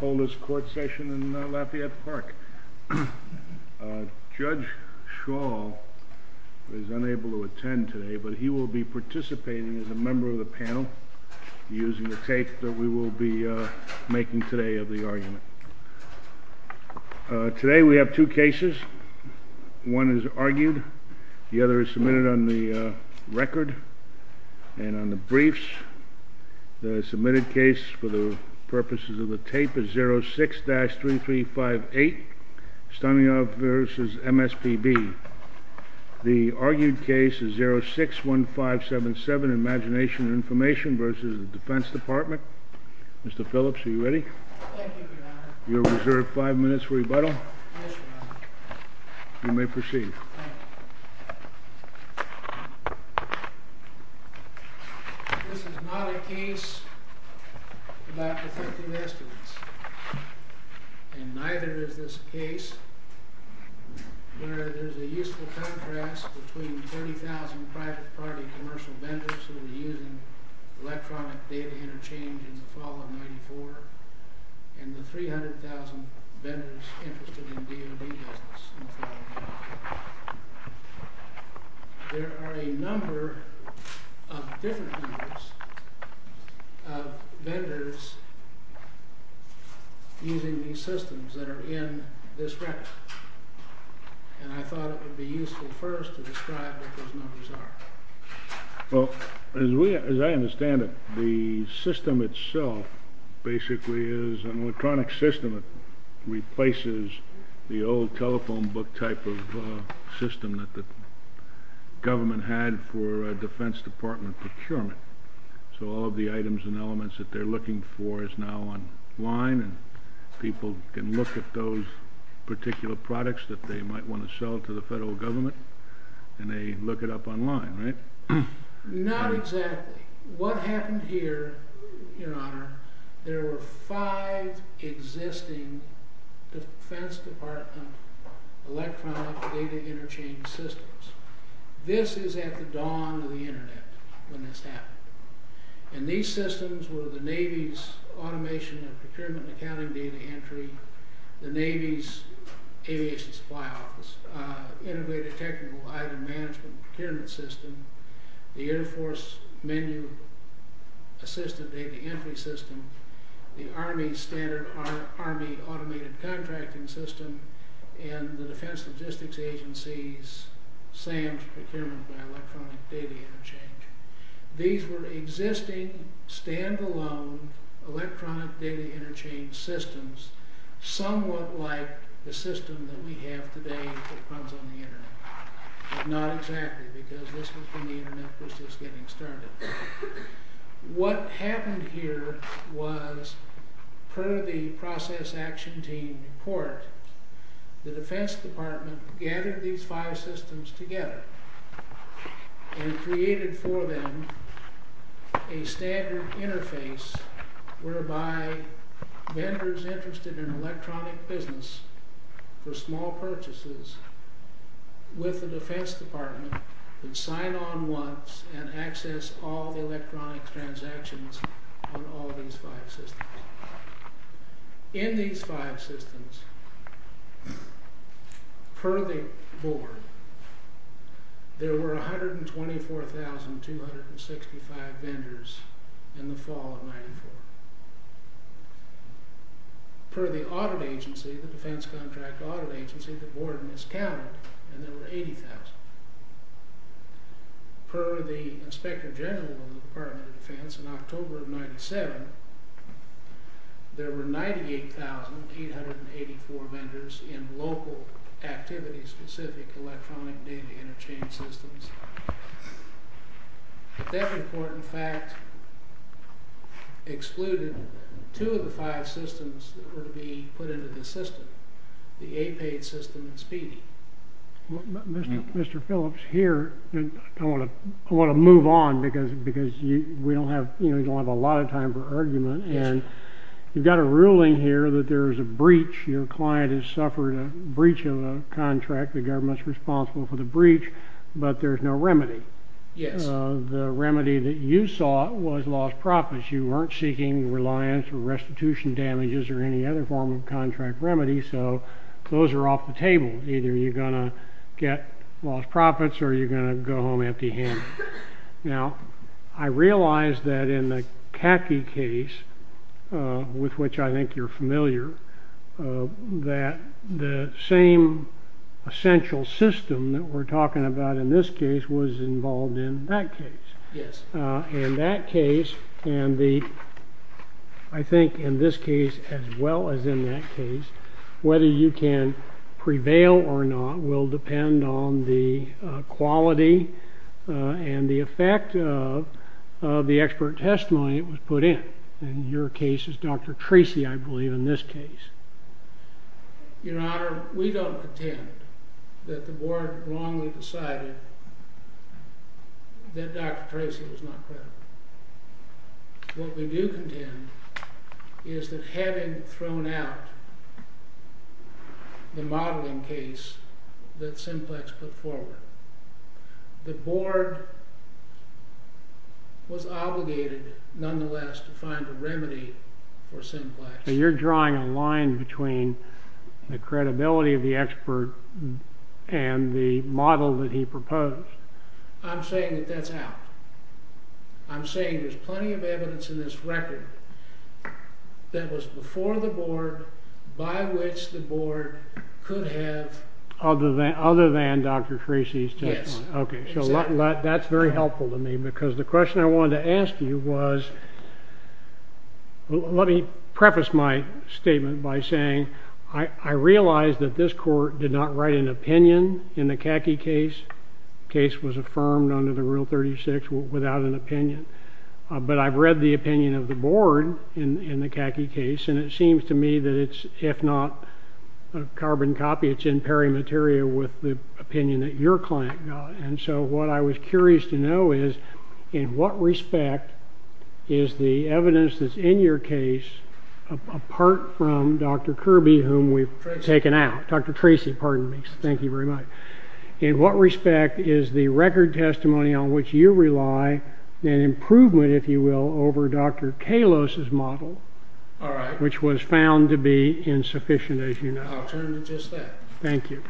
Hold this court session in Lafayette Park. Judge Shaw is unable to attend today but he will be participating as a member of the panel using the tape that we will be making today of the argument. Today we have two cases. One is argued, the other is submitted on the record and on the briefs. The submitted case for the tape is 06-3358, Stonyhove v. MSPB. The argued case is 06-1577, Imagination & Information v. Defense Department. Mr. Phillips, are you ready? Thank you, Your Honor. You are reserved And neither is this case where there is a useful contrast between 40,000 private party commercial vendors who are using electronic data interchange in the fall of 94 and the 300,000 vendors interested in DOD business in the fall of 94. There are a number of different numbers of vendors using these systems that are in this record. And I thought it would be useful first to describe what those numbers are. Well, as I understand it, the system itself basically is an electronic system that replaces the old telephone book type of system that the government had for Defense Department procurement. So all of the items and elements that they are looking for is now online and people can look at those particular products that they might want to sell to the federal government and they look it up online, right? Not exactly. What happened here, Your Honor, there were five existing Defense Department electronic data interchange systems. This is at the dawn of the Internet when this happened. And these systems were the Navy's Automation and Procurement Accounting Data Entry, the Navy's Aviation Supply Office, Integrated Technical Item Management Procurement System, the Air Force Menu Assisted Data Entry System, the Army Standard Army Automated Contracting System, and the Defense Logistics Agency's SAMS Procurement by Electronic Data Interchange. These were existing, stand-alone electronic data interchange systems, somewhat like the system that we have today that comes on the Internet. But not exactly, because this was when the Internet was just getting started. What happened here was, per the Process Action Team report, the Defense Department gathered these five systems together and created for them a standard interface whereby vendors interested in electronic business for small purchases with the Defense Department could sign on once and access all the electronic transactions on all these five systems. In these five systems, per the board, there were 124,265 vendors in the fall of 1994. Per the audit agency, the Defense Contract Audit Agency, the board miscounted and there were 80,000. Per the Inspector General of the Department of Defense, in October of 1997, there were 98,884 vendors in local activity-specific electronic data interchange systems. That report, in fact, excluded two of the five systems that were to be put into the system, the APAID system and SPEDI. Mr. Phillips, here, I want to move on because we don't have a lot of time for argument. You've got a ruling here that there's a breach. Your client has suffered a breach of a contract. The government's responsible for the breach, but there's no remedy. Yes. The remedy that you sought was lost profits. You weren't seeking reliance or restitution damages or any other form of contract remedy, so those are off the table. Either you're going to get lost profits or you're going to go home empty-handed. Now, I realize that in the CACI case, with which I think you're familiar, that the same essential system that we're talking about in this case was involved in that case. Yes. In that case, and I think in this case as well as in that case, whether you can prevail or not will depend on the quality and the effect of the expert testimony that was put in. In your case, it's Dr. Tracy, I believe, in this case. Your Honor, we don't contend that the board wrongly decided that Dr. Tracy was not credible. What we do contend is that having thrown out the modeling case that Simplex put forward, the board was obligated nonetheless to find a remedy for Simplex. You're drawing a line between the credibility of the expert and the model that he proposed. I'm saying that that's out. I'm saying there's plenty of evidence in this record that was before the board by which the board could have... Other than Dr. Tracy's testimony. Yes, exactly. Okay, so that's very helpful to me because the question I wanted to ask you was, let me preface my statement by saying I realize that this court did not write an opinion in the Kaki case. The case was affirmed under the Rule 36 without an opinion, but I've read the opinion of the board in the Kaki case, and it seems to me that it's, if not a carbon copy, it's in pairing material with the opinion that your client got. And so what I was curious to know is, in what respect is the evidence that's in your case, apart from Dr. Kirby, whom we've taken out, Dr. Tracy, pardon me, thank you very much, in what respect is the record testimony on which you rely an improvement, if you will, over Dr. Kalos' model, which was found to be insufficient, as you know? I'll turn to just that. Thank you.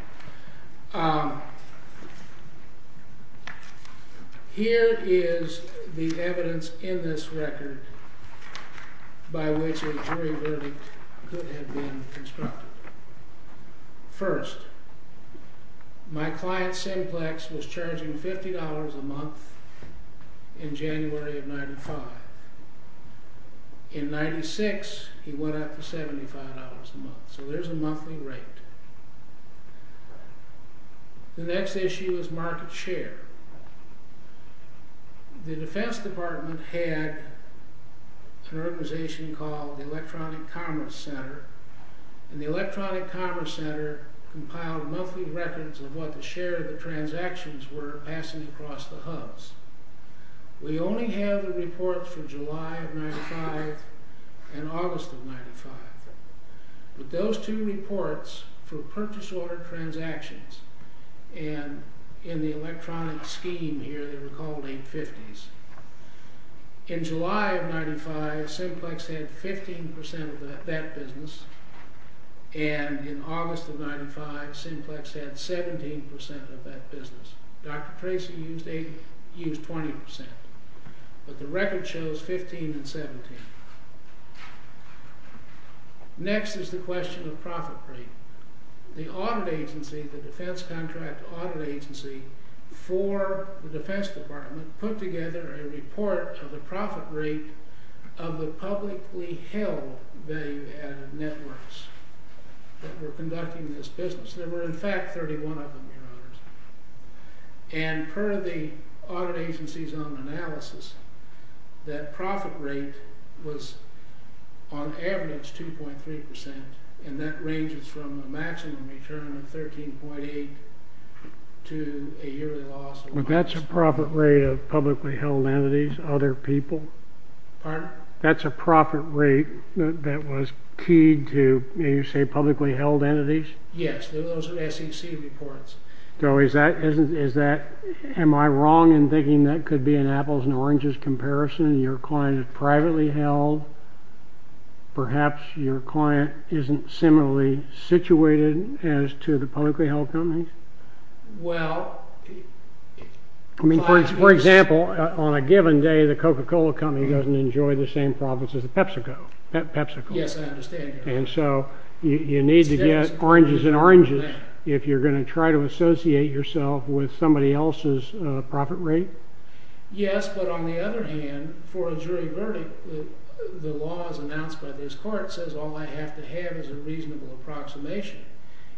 Here is the evidence in this record by which a jury verdict could have been constructed. First, my client, Simplex, was charging $50 a month in January of 1995. In 1996, he went up to $75 a month, so there's a monthly rate. The next issue is market share. The Defense Department had an organization called the Electronic Commerce Center, and the Electronic Commerce Center compiled monthly records of what the share of the transactions were passing across the hubs. We only have the reports for July of 1995 and August of 1995, but those two reports for purchase order transactions, and in the electronic scheme here, they were called 850s. In July of 1995, Simplex had 15% of that business, and in August of 1995, Simplex had 17% of that business. Dr. Tracy used 20%, but the record shows 15 and 17. Next is the question of profit rate. The audit agency, the defense contract audit agency for the Defense Department, put together a report of the profit rate of the publicly held value-added networks that were conducting this business. And per the audit agency's own analysis, that profit rate was on average 2.3%, and that ranges from a maximum return of 13.8 to a yearly loss of... That's a profit rate of publicly held entities, other people? Pardon? That's a profit rate that was keyed to, you say, publicly held entities? Yes, those are SEC reports. So is that—am I wrong in thinking that could be an apples-and-oranges comparison? Your client is privately held. Perhaps your client isn't similarly situated as to the publicly held companies? Well... I mean, for example, on a given day, the Coca-Cola company doesn't enjoy the same profits as the PepsiCo. Yes, I understand that. And so you need to get oranges and oranges if you're going to try to associate yourself with somebody else's profit rate? Yes, but on the other hand, for a jury verdict, the law as announced by this court says all I have to have is a reasonable approximation.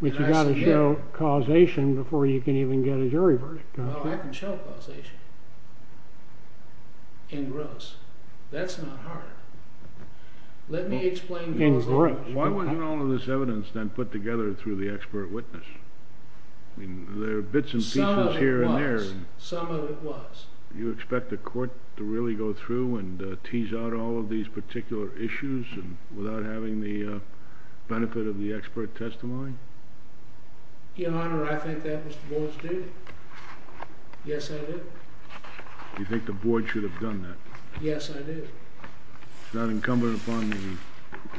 But you've got to show causation before you can even get a jury verdict. Oh, I can show causation. And gross. That's not hard. Let me explain— Why wasn't all of this evidence then put together through the expert witness? I mean, there are bits and pieces here and there. Some of it was. Some of it was. You expect the court to really go through and tease out all of these particular issues without having the benefit of the expert testimony? Your Honor, I think that was the board's duty. Yes, I did. You think the board should have done that? Yes, I do. It's not incumbent upon the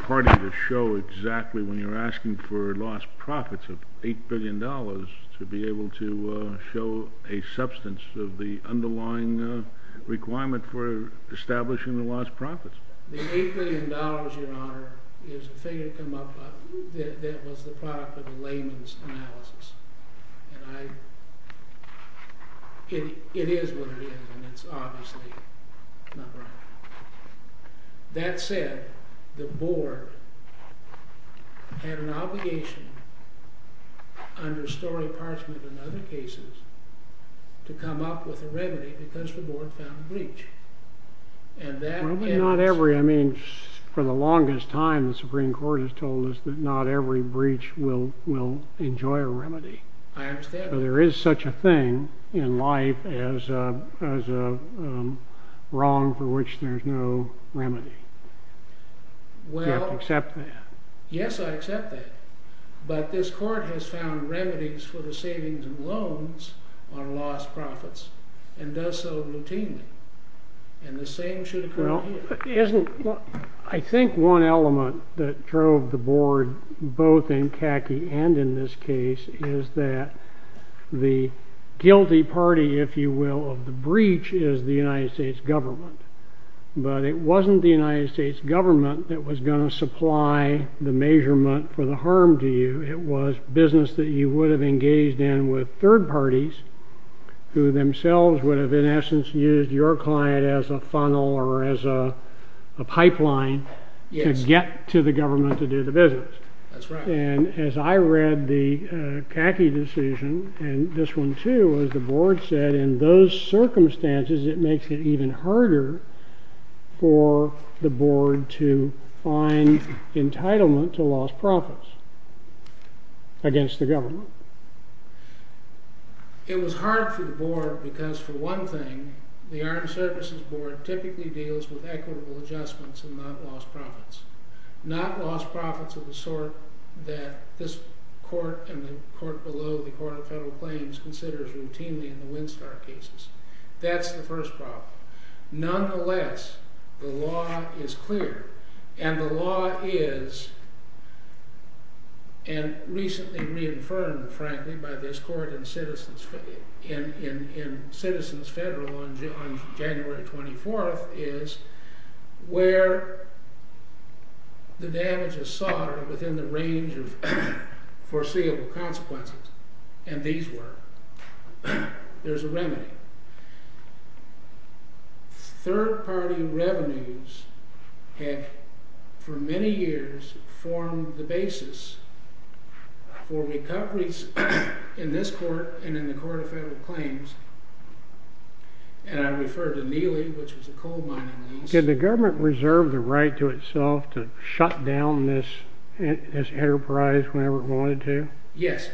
party to show exactly when you're asking for lost profits of $8 billion to be able to show a substance of the underlying requirement for establishing the lost profits. The $8 billion, Your Honor, is a figure that came up that was the product of a layman's analysis. It is what it is, and it's obviously not right. That said, the board had an obligation under Story Parchment and other cases to come up with a remedy because the board found a breach. Probably not every. I mean, for the longest time, the Supreme Court has told us that not every breach will enjoy a remedy. I understand. There is such a thing in life as a wrong for which there's no remedy. You have to accept that. Yes, I accept that, but this court has found remedies for the savings and loans on lost profits and does so routinely, and the same should occur here. I think one element that drove the board, both in Kaki and in this case, is that the guilty party, if you will, of the breach is the United States government. But it wasn't the United States government that was going to supply the measurement for the harm to you. It was business that you would have engaged in with third parties who themselves would have, in essence, used your client as a funnel or as a pipeline to get to the government to do the business. That's right. And as I read the Kaki decision, and this one too, as the board said, in those circumstances it makes it even harder for the board to find entitlement to lost profits against the government. It was hard for the board because, for one thing, the Armed Services Board typically deals with equitable adjustments and not lost profits. Not lost profits of the sort that this court and the court below, the Court of Federal Claims, considers routinely in the Winstar cases. That's the first problem. Nonetheless, the law is clear. And the law is, and recently reaffirmed, frankly, by this court in Citizens Federal on January 24th, is where the damage is soldered within the range of foreseeable consequences. And these were. There's a remedy. Third-party revenues had, for many years, formed the basis for recoveries in this court and in the Court of Federal Claims. And I refer to Neely, which was a coal mining lease. Did the government reserve the right to itself to shut down this enterprise whenever it wanted to? Yes.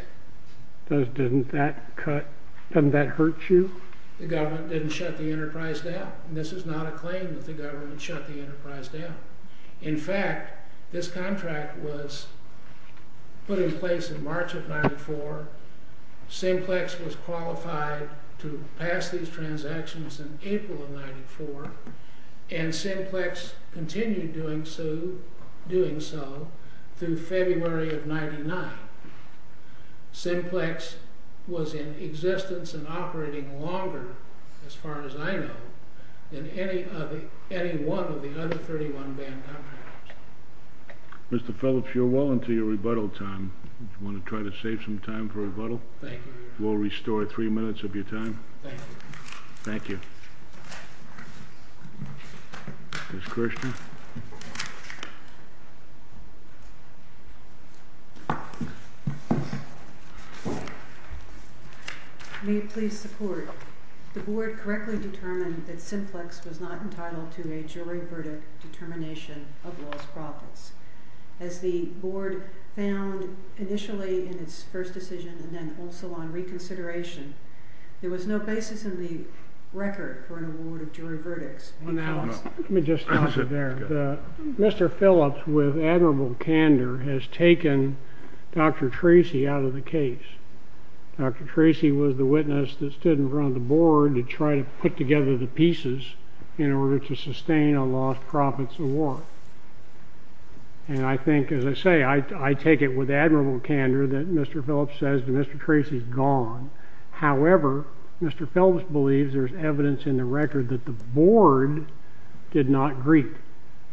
Doesn't that hurt you? The government didn't shut the enterprise down. And this is not a claim that the government shut the enterprise down. In fact, this contract was put in place in March of 94. Simplex was qualified to pass these transactions in April of 94. And Simplex continued doing so through February of 99. Simplex was in existence and operating longer, as far as I know, than any one of the other 31-band contracts. Mr. Phillips, you're well into your rebuttal time. Do you want to try to save some time for rebuttal? Thank you. We'll restore three minutes of your time. Thank you. Thank you. Ms. Kirshner? May it please the Court. The Board correctly determined that Simplex was not entitled to a jury verdict determination of lost profits. As the Board found initially in its first decision and then also on reconsideration, there was no basis in the record for an award of jury verdicts. Mr. Phillips, with admirable candor, has taken Dr. Tracy out of the case. Dr. Tracy was the witness that stood in front of the Board to try to put together the pieces in order to sustain a lost profits award. And I think, as I say, I take it with admirable candor that Mr. Phillips says that Mr. Tracy's gone. However, Mr. Phillips believes there's evidence in the record that the Board did not greet.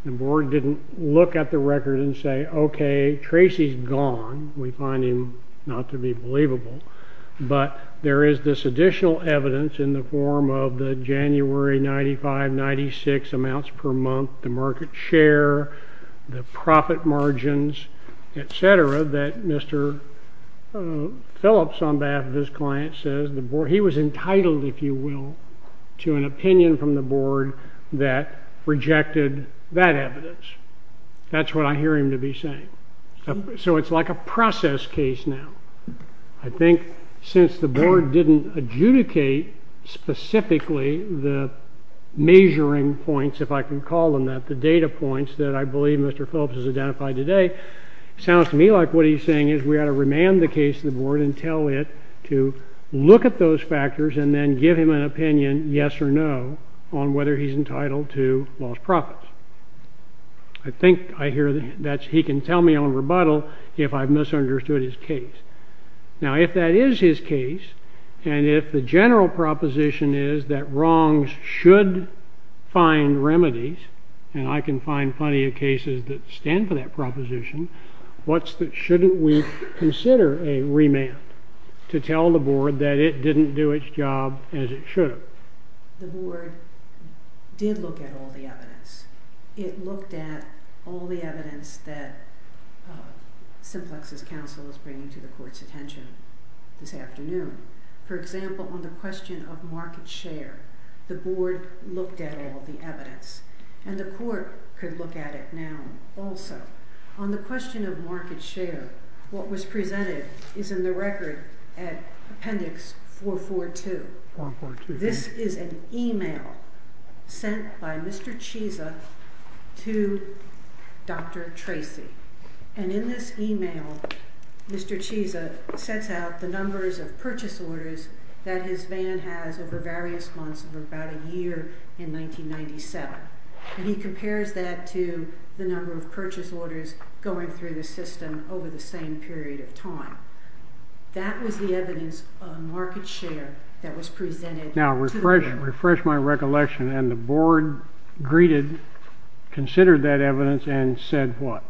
The Board didn't look at the record and say, okay, Tracy's gone. We find him not to be believable. But there is this additional evidence in the form of the January 95-96 amounts per month, the market share, the profit margins, etc., that Mr. Phillips, on behalf of his client, says he was entitled, if you will, to an opinion from the Board that rejected that evidence. That's what I hear him to be saying. So it's like a process case now. I think since the Board didn't adjudicate specifically the measuring points, if I can call them that, the data points that I believe Mr. Phillips has identified today, it sounds to me like what he's saying is we ought to remand the case to the Board and tell it to look at those factors and then give him an opinion, yes or no, on whether he's entitled to lost profits. I think I hear that he can tell me on rebuttal if I've misunderstood his case. Now, if that is his case, and if the general proposition is that wrongs should find remedies, and I can find plenty of cases that stand for that proposition, what's the—shouldn't we consider a remand to tell the Board that it didn't do its job as it should have? The Board did look at all the evidence. It looked at all the evidence that Simplex's counsel is bringing to the Court's attention this afternoon. For example, on the question of market share, the Board looked at all the evidence, and the Court could look at it now also. On the question of market share, what was presented is in the record at Appendix 442. This is an email sent by Mr. Chiesa to Dr. Tracy, and in this email, Mr. Chiesa sets out the numbers of purchase orders that his van has over various months of about a year in 1997, and he compares that to the number of purchase orders going through the system over the same period of time. That was the evidence on market share that was presented to the Board. Now, refresh my recollection. And the Board greeted—considered that evidence and said what?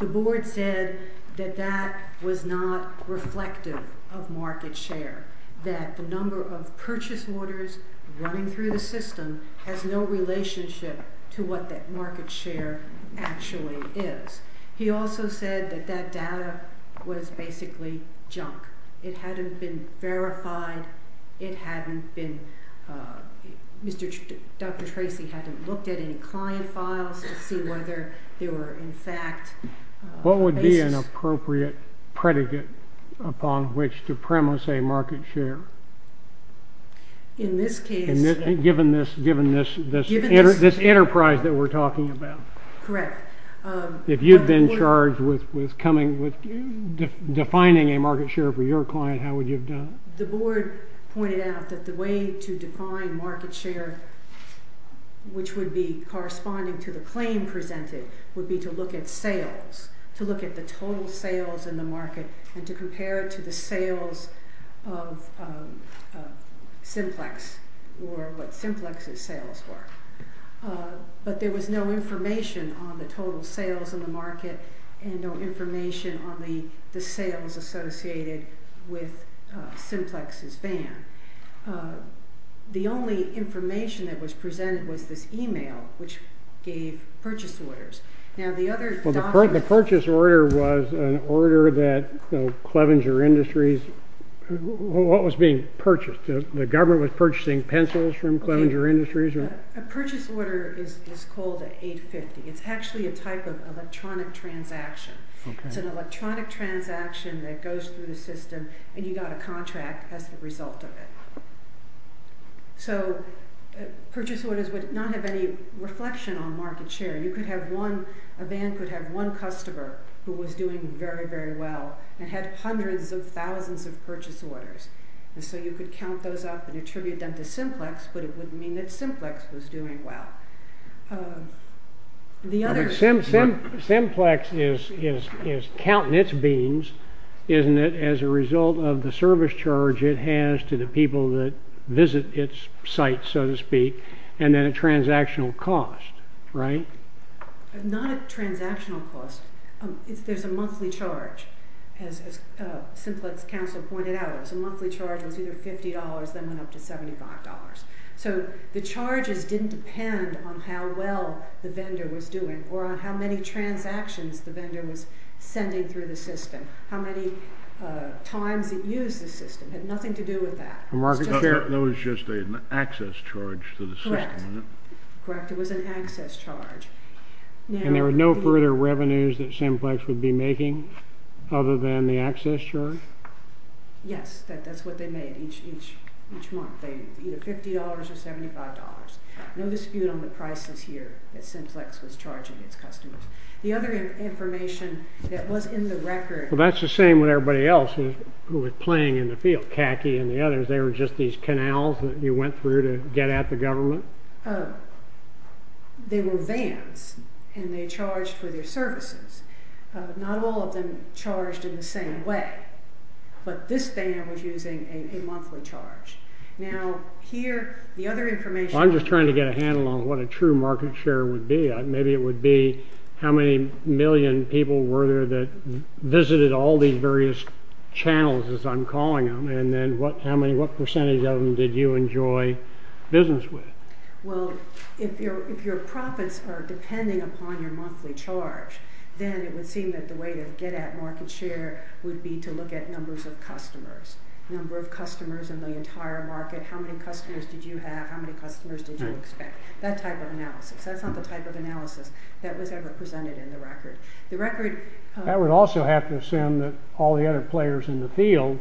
The Board said that that was not reflective of market share, that the number of purchase orders running through the system has no relationship to what that market share actually is. He also said that that data was basically junk. It hadn't been verified. It hadn't been—Dr. Tracy hadn't looked at any client files to see whether they were in fact— What would be an appropriate predicate upon which to premise a market share? In this case— Given this enterprise that we're talking about. Correct. If you'd been charged with defining a market share for your client, how would you have done it? The Board pointed out that the way to define market share, which would be corresponding to the claim presented, would be to look at sales, to look at the total sales in the market and to compare it to the sales of Simplex, or what Simplex's sales were. But there was no information on the total sales in the market and no information on the sales associated with Simplex's van. The only information that was presented was this email, which gave purchase orders. Now, the other documents— The purchase order was an order that Clevenger Industries— What was being purchased? The government was purchasing pencils from Clevenger Industries? A purchase order is called an 850. It's actually a type of electronic transaction. It's an electronic transaction that goes through the system, and you got a contract as a result of it. So purchase orders would not have any reflection on market share. A van could have one customer who was doing very, very well and had hundreds of thousands of purchase orders. So you could count those up and attribute them to Simplex, but it wouldn't mean that Simplex was doing well. Simplex is counting its beans, isn't it, as a result of the service charge it has to the people that visit its site, so to speak, and then a transactional cost, right? Not a transactional cost. There's a monthly charge, as Simplex Council pointed out. A monthly charge was either $50, then went up to $75. So the charges didn't depend on how well the vendor was doing or on how many transactions the vendor was sending through the system, how many times it used the system. It had nothing to do with that. It was just an access charge to the system, wasn't it? Correct. It was an access charge. And there were no further revenues that Simplex would be making other than the access charge? Yes, that's what they made each month, either $50 or $75. No dispute on the prices here that Simplex was charging its customers. The other information that was in the record... Well, that's the same with everybody else who was playing in the field, CACI and the others. They were just these canals that you went through to get at the government? They were vans, and they charged for their services. Not all of them charged in the same way, but this van was using a monthly charge. Now, here, the other information... I'm just trying to get a handle on what a true market share would be. Maybe it would be how many million people were there that visited all these various channels, as I'm calling them, and then what percentage of them did you enjoy business with? Well, if your profits are depending upon your monthly charge, then it would seem that the way to get at market share would be to look at numbers of customers, number of customers in the entire market, how many customers did you have, how many customers did you expect, that type of analysis. That's not the type of analysis that was ever presented in the record. That would also have to assume that all the other players in the field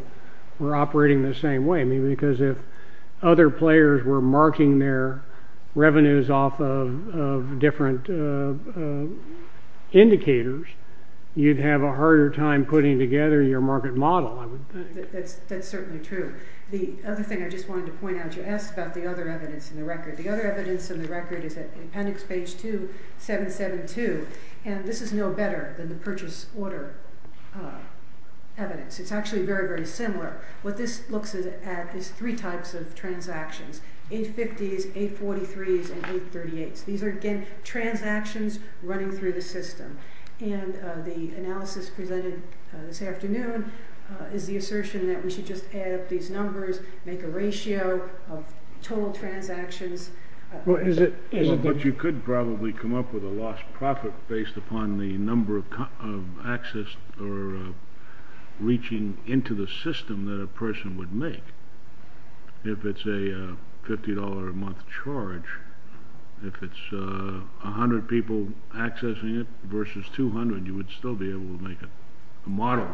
were operating the same way, because if other players were marking their revenues off of different indicators, you'd have a harder time putting together your market model. That's certainly true. The other thing I just wanted to point out, you asked about the other evidence in the record. The other evidence in the record is at appendix page 2772, and this is no better than the purchase order evidence. It's actually very, very similar. What this looks at is three types of transactions, 850s, 843s, and 838s. These are, again, transactions running through the system, and the analysis presented this afternoon is the assertion that we should just add up these numbers, make a ratio of total transactions. But you could probably come up with a lost profit based upon the number of access or reaching into the system that a person would make. If it's a $50 a month charge, if it's 100 people accessing it versus 200, you would still be able to make a model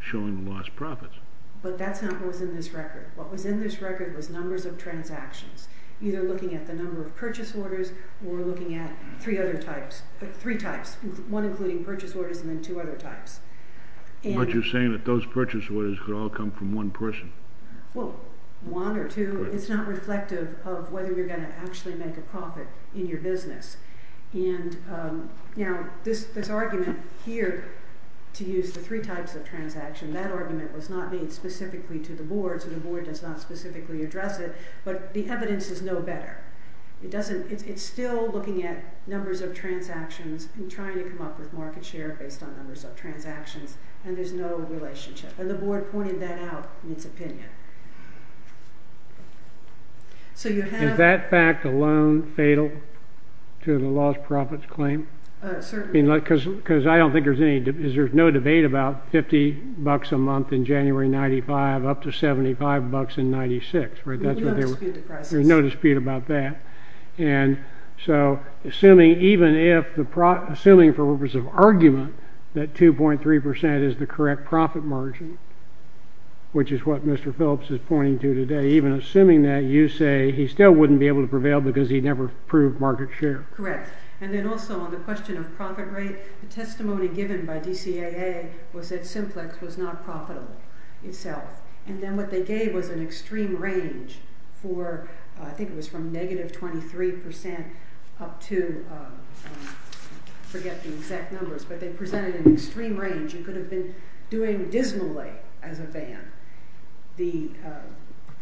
showing lost profits. But that's not what was in this record. What was in this record was numbers of transactions, either looking at the number of purchase orders or looking at three other types, three types, one including purchase orders and then two other types. But you're saying that those purchase orders could all come from one person? Well, one or two. It's not reflective of whether you're going to actually make a profit in your business. And, you know, this argument here to use the three types of transactions, that argument was not made specifically to the board, so the board does not specifically address it, but the evidence is no better. It's still looking at numbers of transactions and trying to come up with market share based on numbers of transactions, and there's no relationship. And the board pointed that out in its opinion. So you have... Is that fact alone fatal to the lost profits claim? Certainly. Because I don't think there's any... There's no debate about 50 bucks a month in January of 95, up to 75 bucks in 96, right? We don't dispute the prices. There's no dispute about that. And so assuming even if the... Assuming for purpose of argument that 2.3% is the correct profit margin, which is what Mr. Phillips is pointing to today, even assuming that, you say, he still wouldn't be able to prevail because he never proved market share. Correct. And then also on the question of profit rate, the testimony given by DCAA was that Simplex was not profitable itself. And then what they gave was an extreme range for... Up to... Forget the exact numbers, but they presented an extreme range. You could have been doing dismally as a van. The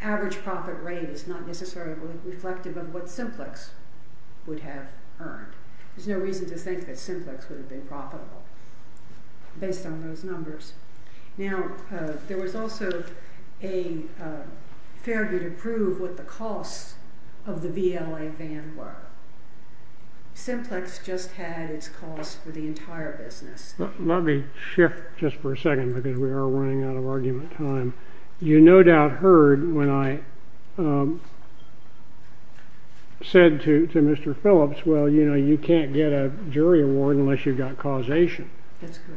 average profit rate is not necessarily reflective of what Simplex would have earned. There's no reason to think that Simplex would have been profitable based on those numbers. Now, there was also a fair bit of proof of what the costs of the VLA van were. Simplex just had its costs for the entire business. Let me shift just for a second because we are running out of argument time. You no doubt heard when I said to Mr. Phillips, well, you know, you can't get a jury award unless you've got causation,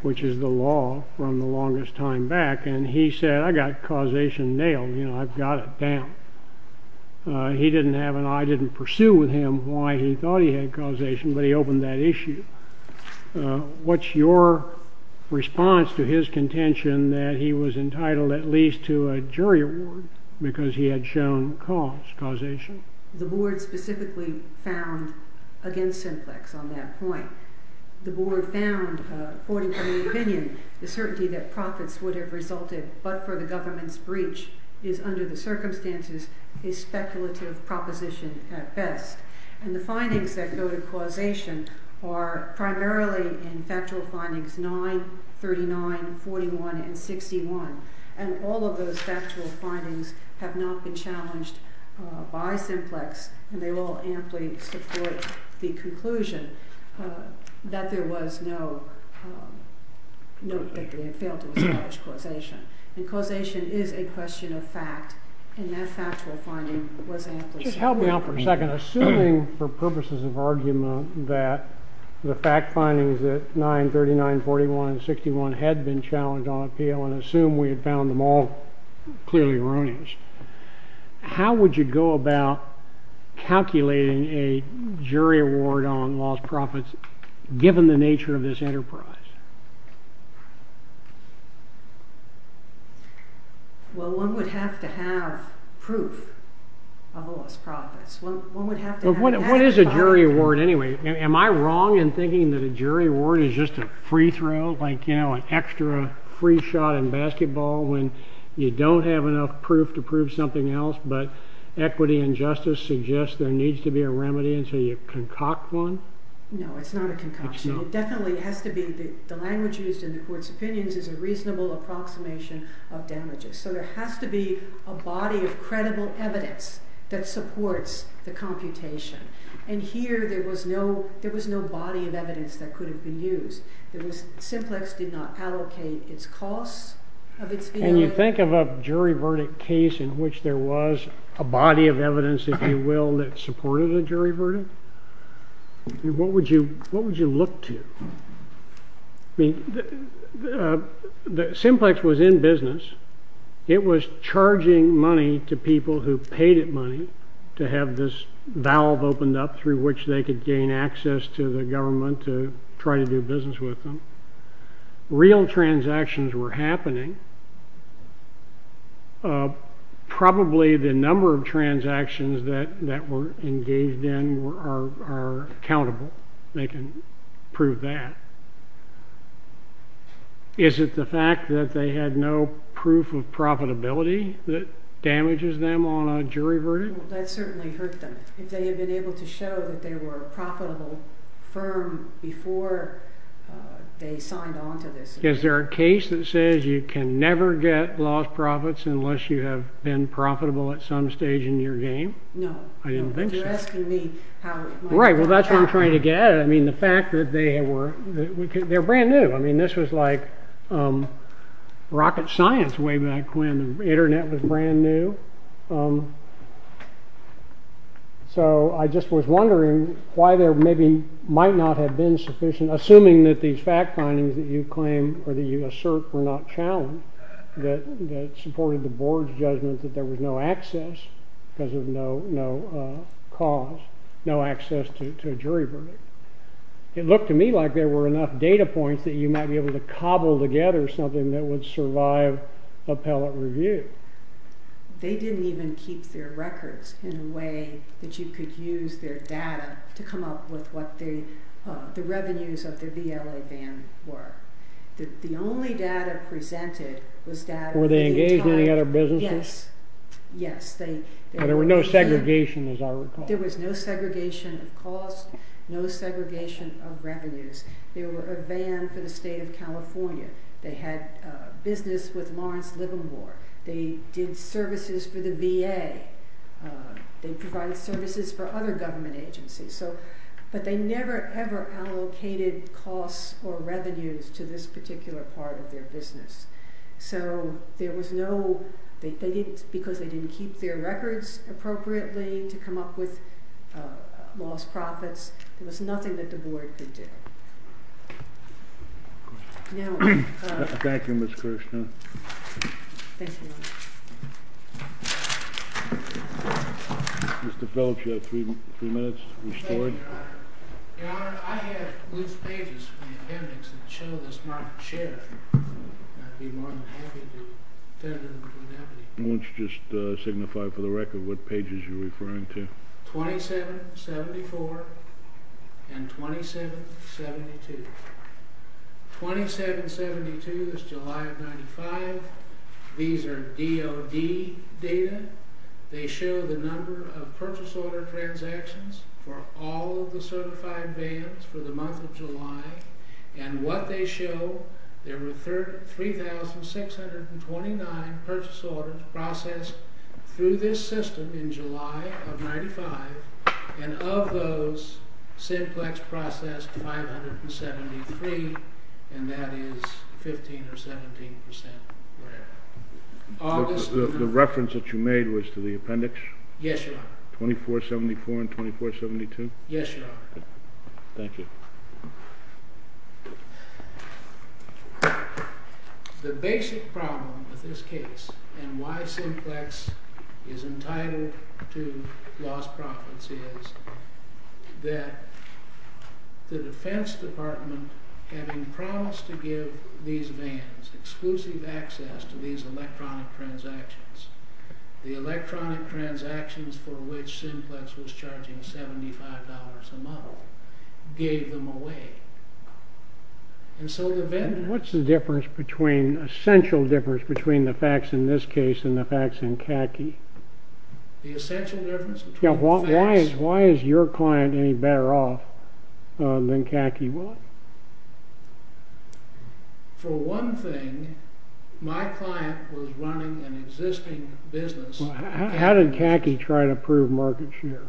which is the law from the longest time back. And he said, I got causation nailed. You know, I've got it down. He didn't have... I didn't pursue with him why he thought he had causation, but he opened that issue. What's your response to his contention that he was entitled at least to a jury award because he had shown causation? The board specifically found against Simplex on that point. The board found, according to the opinion, the certainty that profits would have resulted but for the government's breach is under the circumstances a speculative proposition at best. And the findings that go to causation are primarily in factual findings 9, 39, 41, and 61. And all of those factual findings have not been challenged by Simplex, and they all amply support the conclusion that there was no... that they had failed to establish causation. And causation is a question of fact, and that factual finding was amply... Just help me out for a second. Assuming, for purposes of argument, that the fact findings at 9, 39, 41, and 61 had been challenged on appeal, and assume we had found them all clearly erroneous, how would you go about calculating a jury award on lost profits given the nature of this enterprise? Well, one would have to have proof of lost profits. One would have to have... What is a jury award, anyway? Am I wrong in thinking that a jury award is just a free throw, like, you know, an extra free shot in basketball when you don't have enough proof to prove something else, but equity and justice suggest there needs to be a remedy until you concoct one? No, it's not a concoction. It definitely has to be... The language used in the court's opinions is a reasonable approximation of damages. So there has to be a body of credible evidence that supports the computation. And here, there was no body of evidence that could have been used. Simplex did not allocate its costs of its... And you think of a jury verdict case in which there was a body of evidence, if you will, that supported a jury verdict? What would you look to? I mean, Simplex was in business. It was charging money to people who paid it money to have this valve opened up through which they could gain access to the government to try to do business with them. Real transactions were happening. Probably the number of transactions that were engaged in are countable. They can prove that. Is it the fact that they had no proof of profitability that damages them on a jury verdict? That certainly hurt them. If they had been able to show that they were a profitable firm before they signed on to this... Is there a case that says you can never get lost profits unless you have been profitable at some stage in your game? No. I didn't think so. You're asking me how it might have happened. Right, well, that's what I'm trying to get at. I mean, the fact that they were... They were brand new. I mean, this was like rocket science way back when the Internet was brand new. So I just was wondering why there maybe might not have been sufficient, assuming that these fact findings that you claim or that you assert were not challenged, that supported the board's judgment that there was no access because of no cause, no access to a jury verdict. It looked to me like there were enough data points that you might be able to cobble together something that would survive appellate review. They didn't even keep their records in a way that you could use their data to come up with what the revenues of the VLA ban were. The only data presented was data... Were they engaged in any other businesses? Yes, yes. There were no segregation, as I recall. There was no segregation of cost, no segregation of revenues. They were a ban for the state of California. They had business with Lawrence Livermore. They did services for the VA. They provided services for other government agencies. But they never, ever allocated costs or revenues to this particular part of their business. So there was no... Because they didn't keep their records appropriately to come up with lost profits, there was nothing that the board could do. Thank you, Ms. Kirshner. Thank you. Mr. Phillips, you have three minutes restored. Thank you, Your Honor. Your Honor, I have loose pages from the appendix that show this market share. I'd be more than happy to... Why don't you just signify for the record what pages you're referring to. 2774 and 2772. 2772 is July of 95. These are DOD data. They show the number of purchase order transactions for all of the certified bans for the month of July. And what they show, there were 3,629 purchase orders processed through this system in July of 95, and of those, Simplex processed 573, and that is 15 or 17 percent. The reference that you made was to the appendix? Yes, Your Honor. 2474 and 2472? Yes, Your Honor. Thank you. The basic problem with this case and why Simplex is entitled to lost profits is that the Defense Department, having promised to give these bans exclusive access to these electronic transactions, the electronic transactions for which Simplex was charging $75 a month, gave them away. And so the vendor... What's the difference between, essential difference between the facts in this case and the facts in Katke? The essential difference? Why is your client any better off than Katke was? For one thing, my client was running an existing business. How did Katke try to prove market share?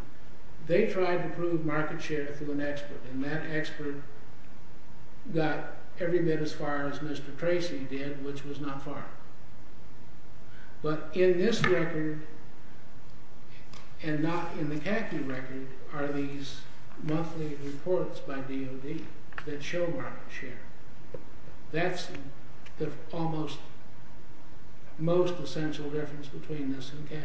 They tried to prove market share through an expert, and that expert got every bit as far as Mr. Tracy did, which was not far. But in this record, and not in the Katke record, are these monthly reports by DOD that show market share. That's the almost most essential difference between this and Katke.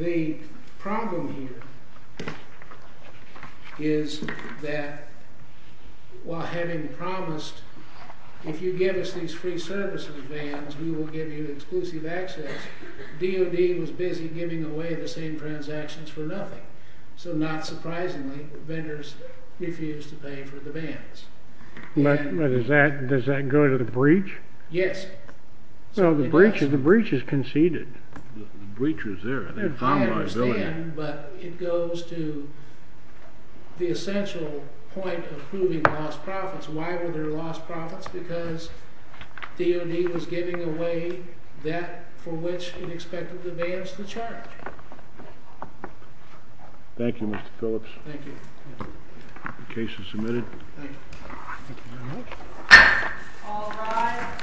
The problem here is that, while having promised, if you give us these free services bans, we will give you exclusive access, DOD was busy giving away the same transactions for nothing. So not surprisingly, vendors refused to pay for the bans. But does that go to the breach? Yes. So the breach is conceded. The breach is there. I understand, but it goes to the essential point of proving lost profits. Why were there lost profits? Because DOD was giving away that for which it expected the bans to charge. Thank you, Mr. Phillips. Thank you. The case is submitted. Thank you. Thank you very much. All rise.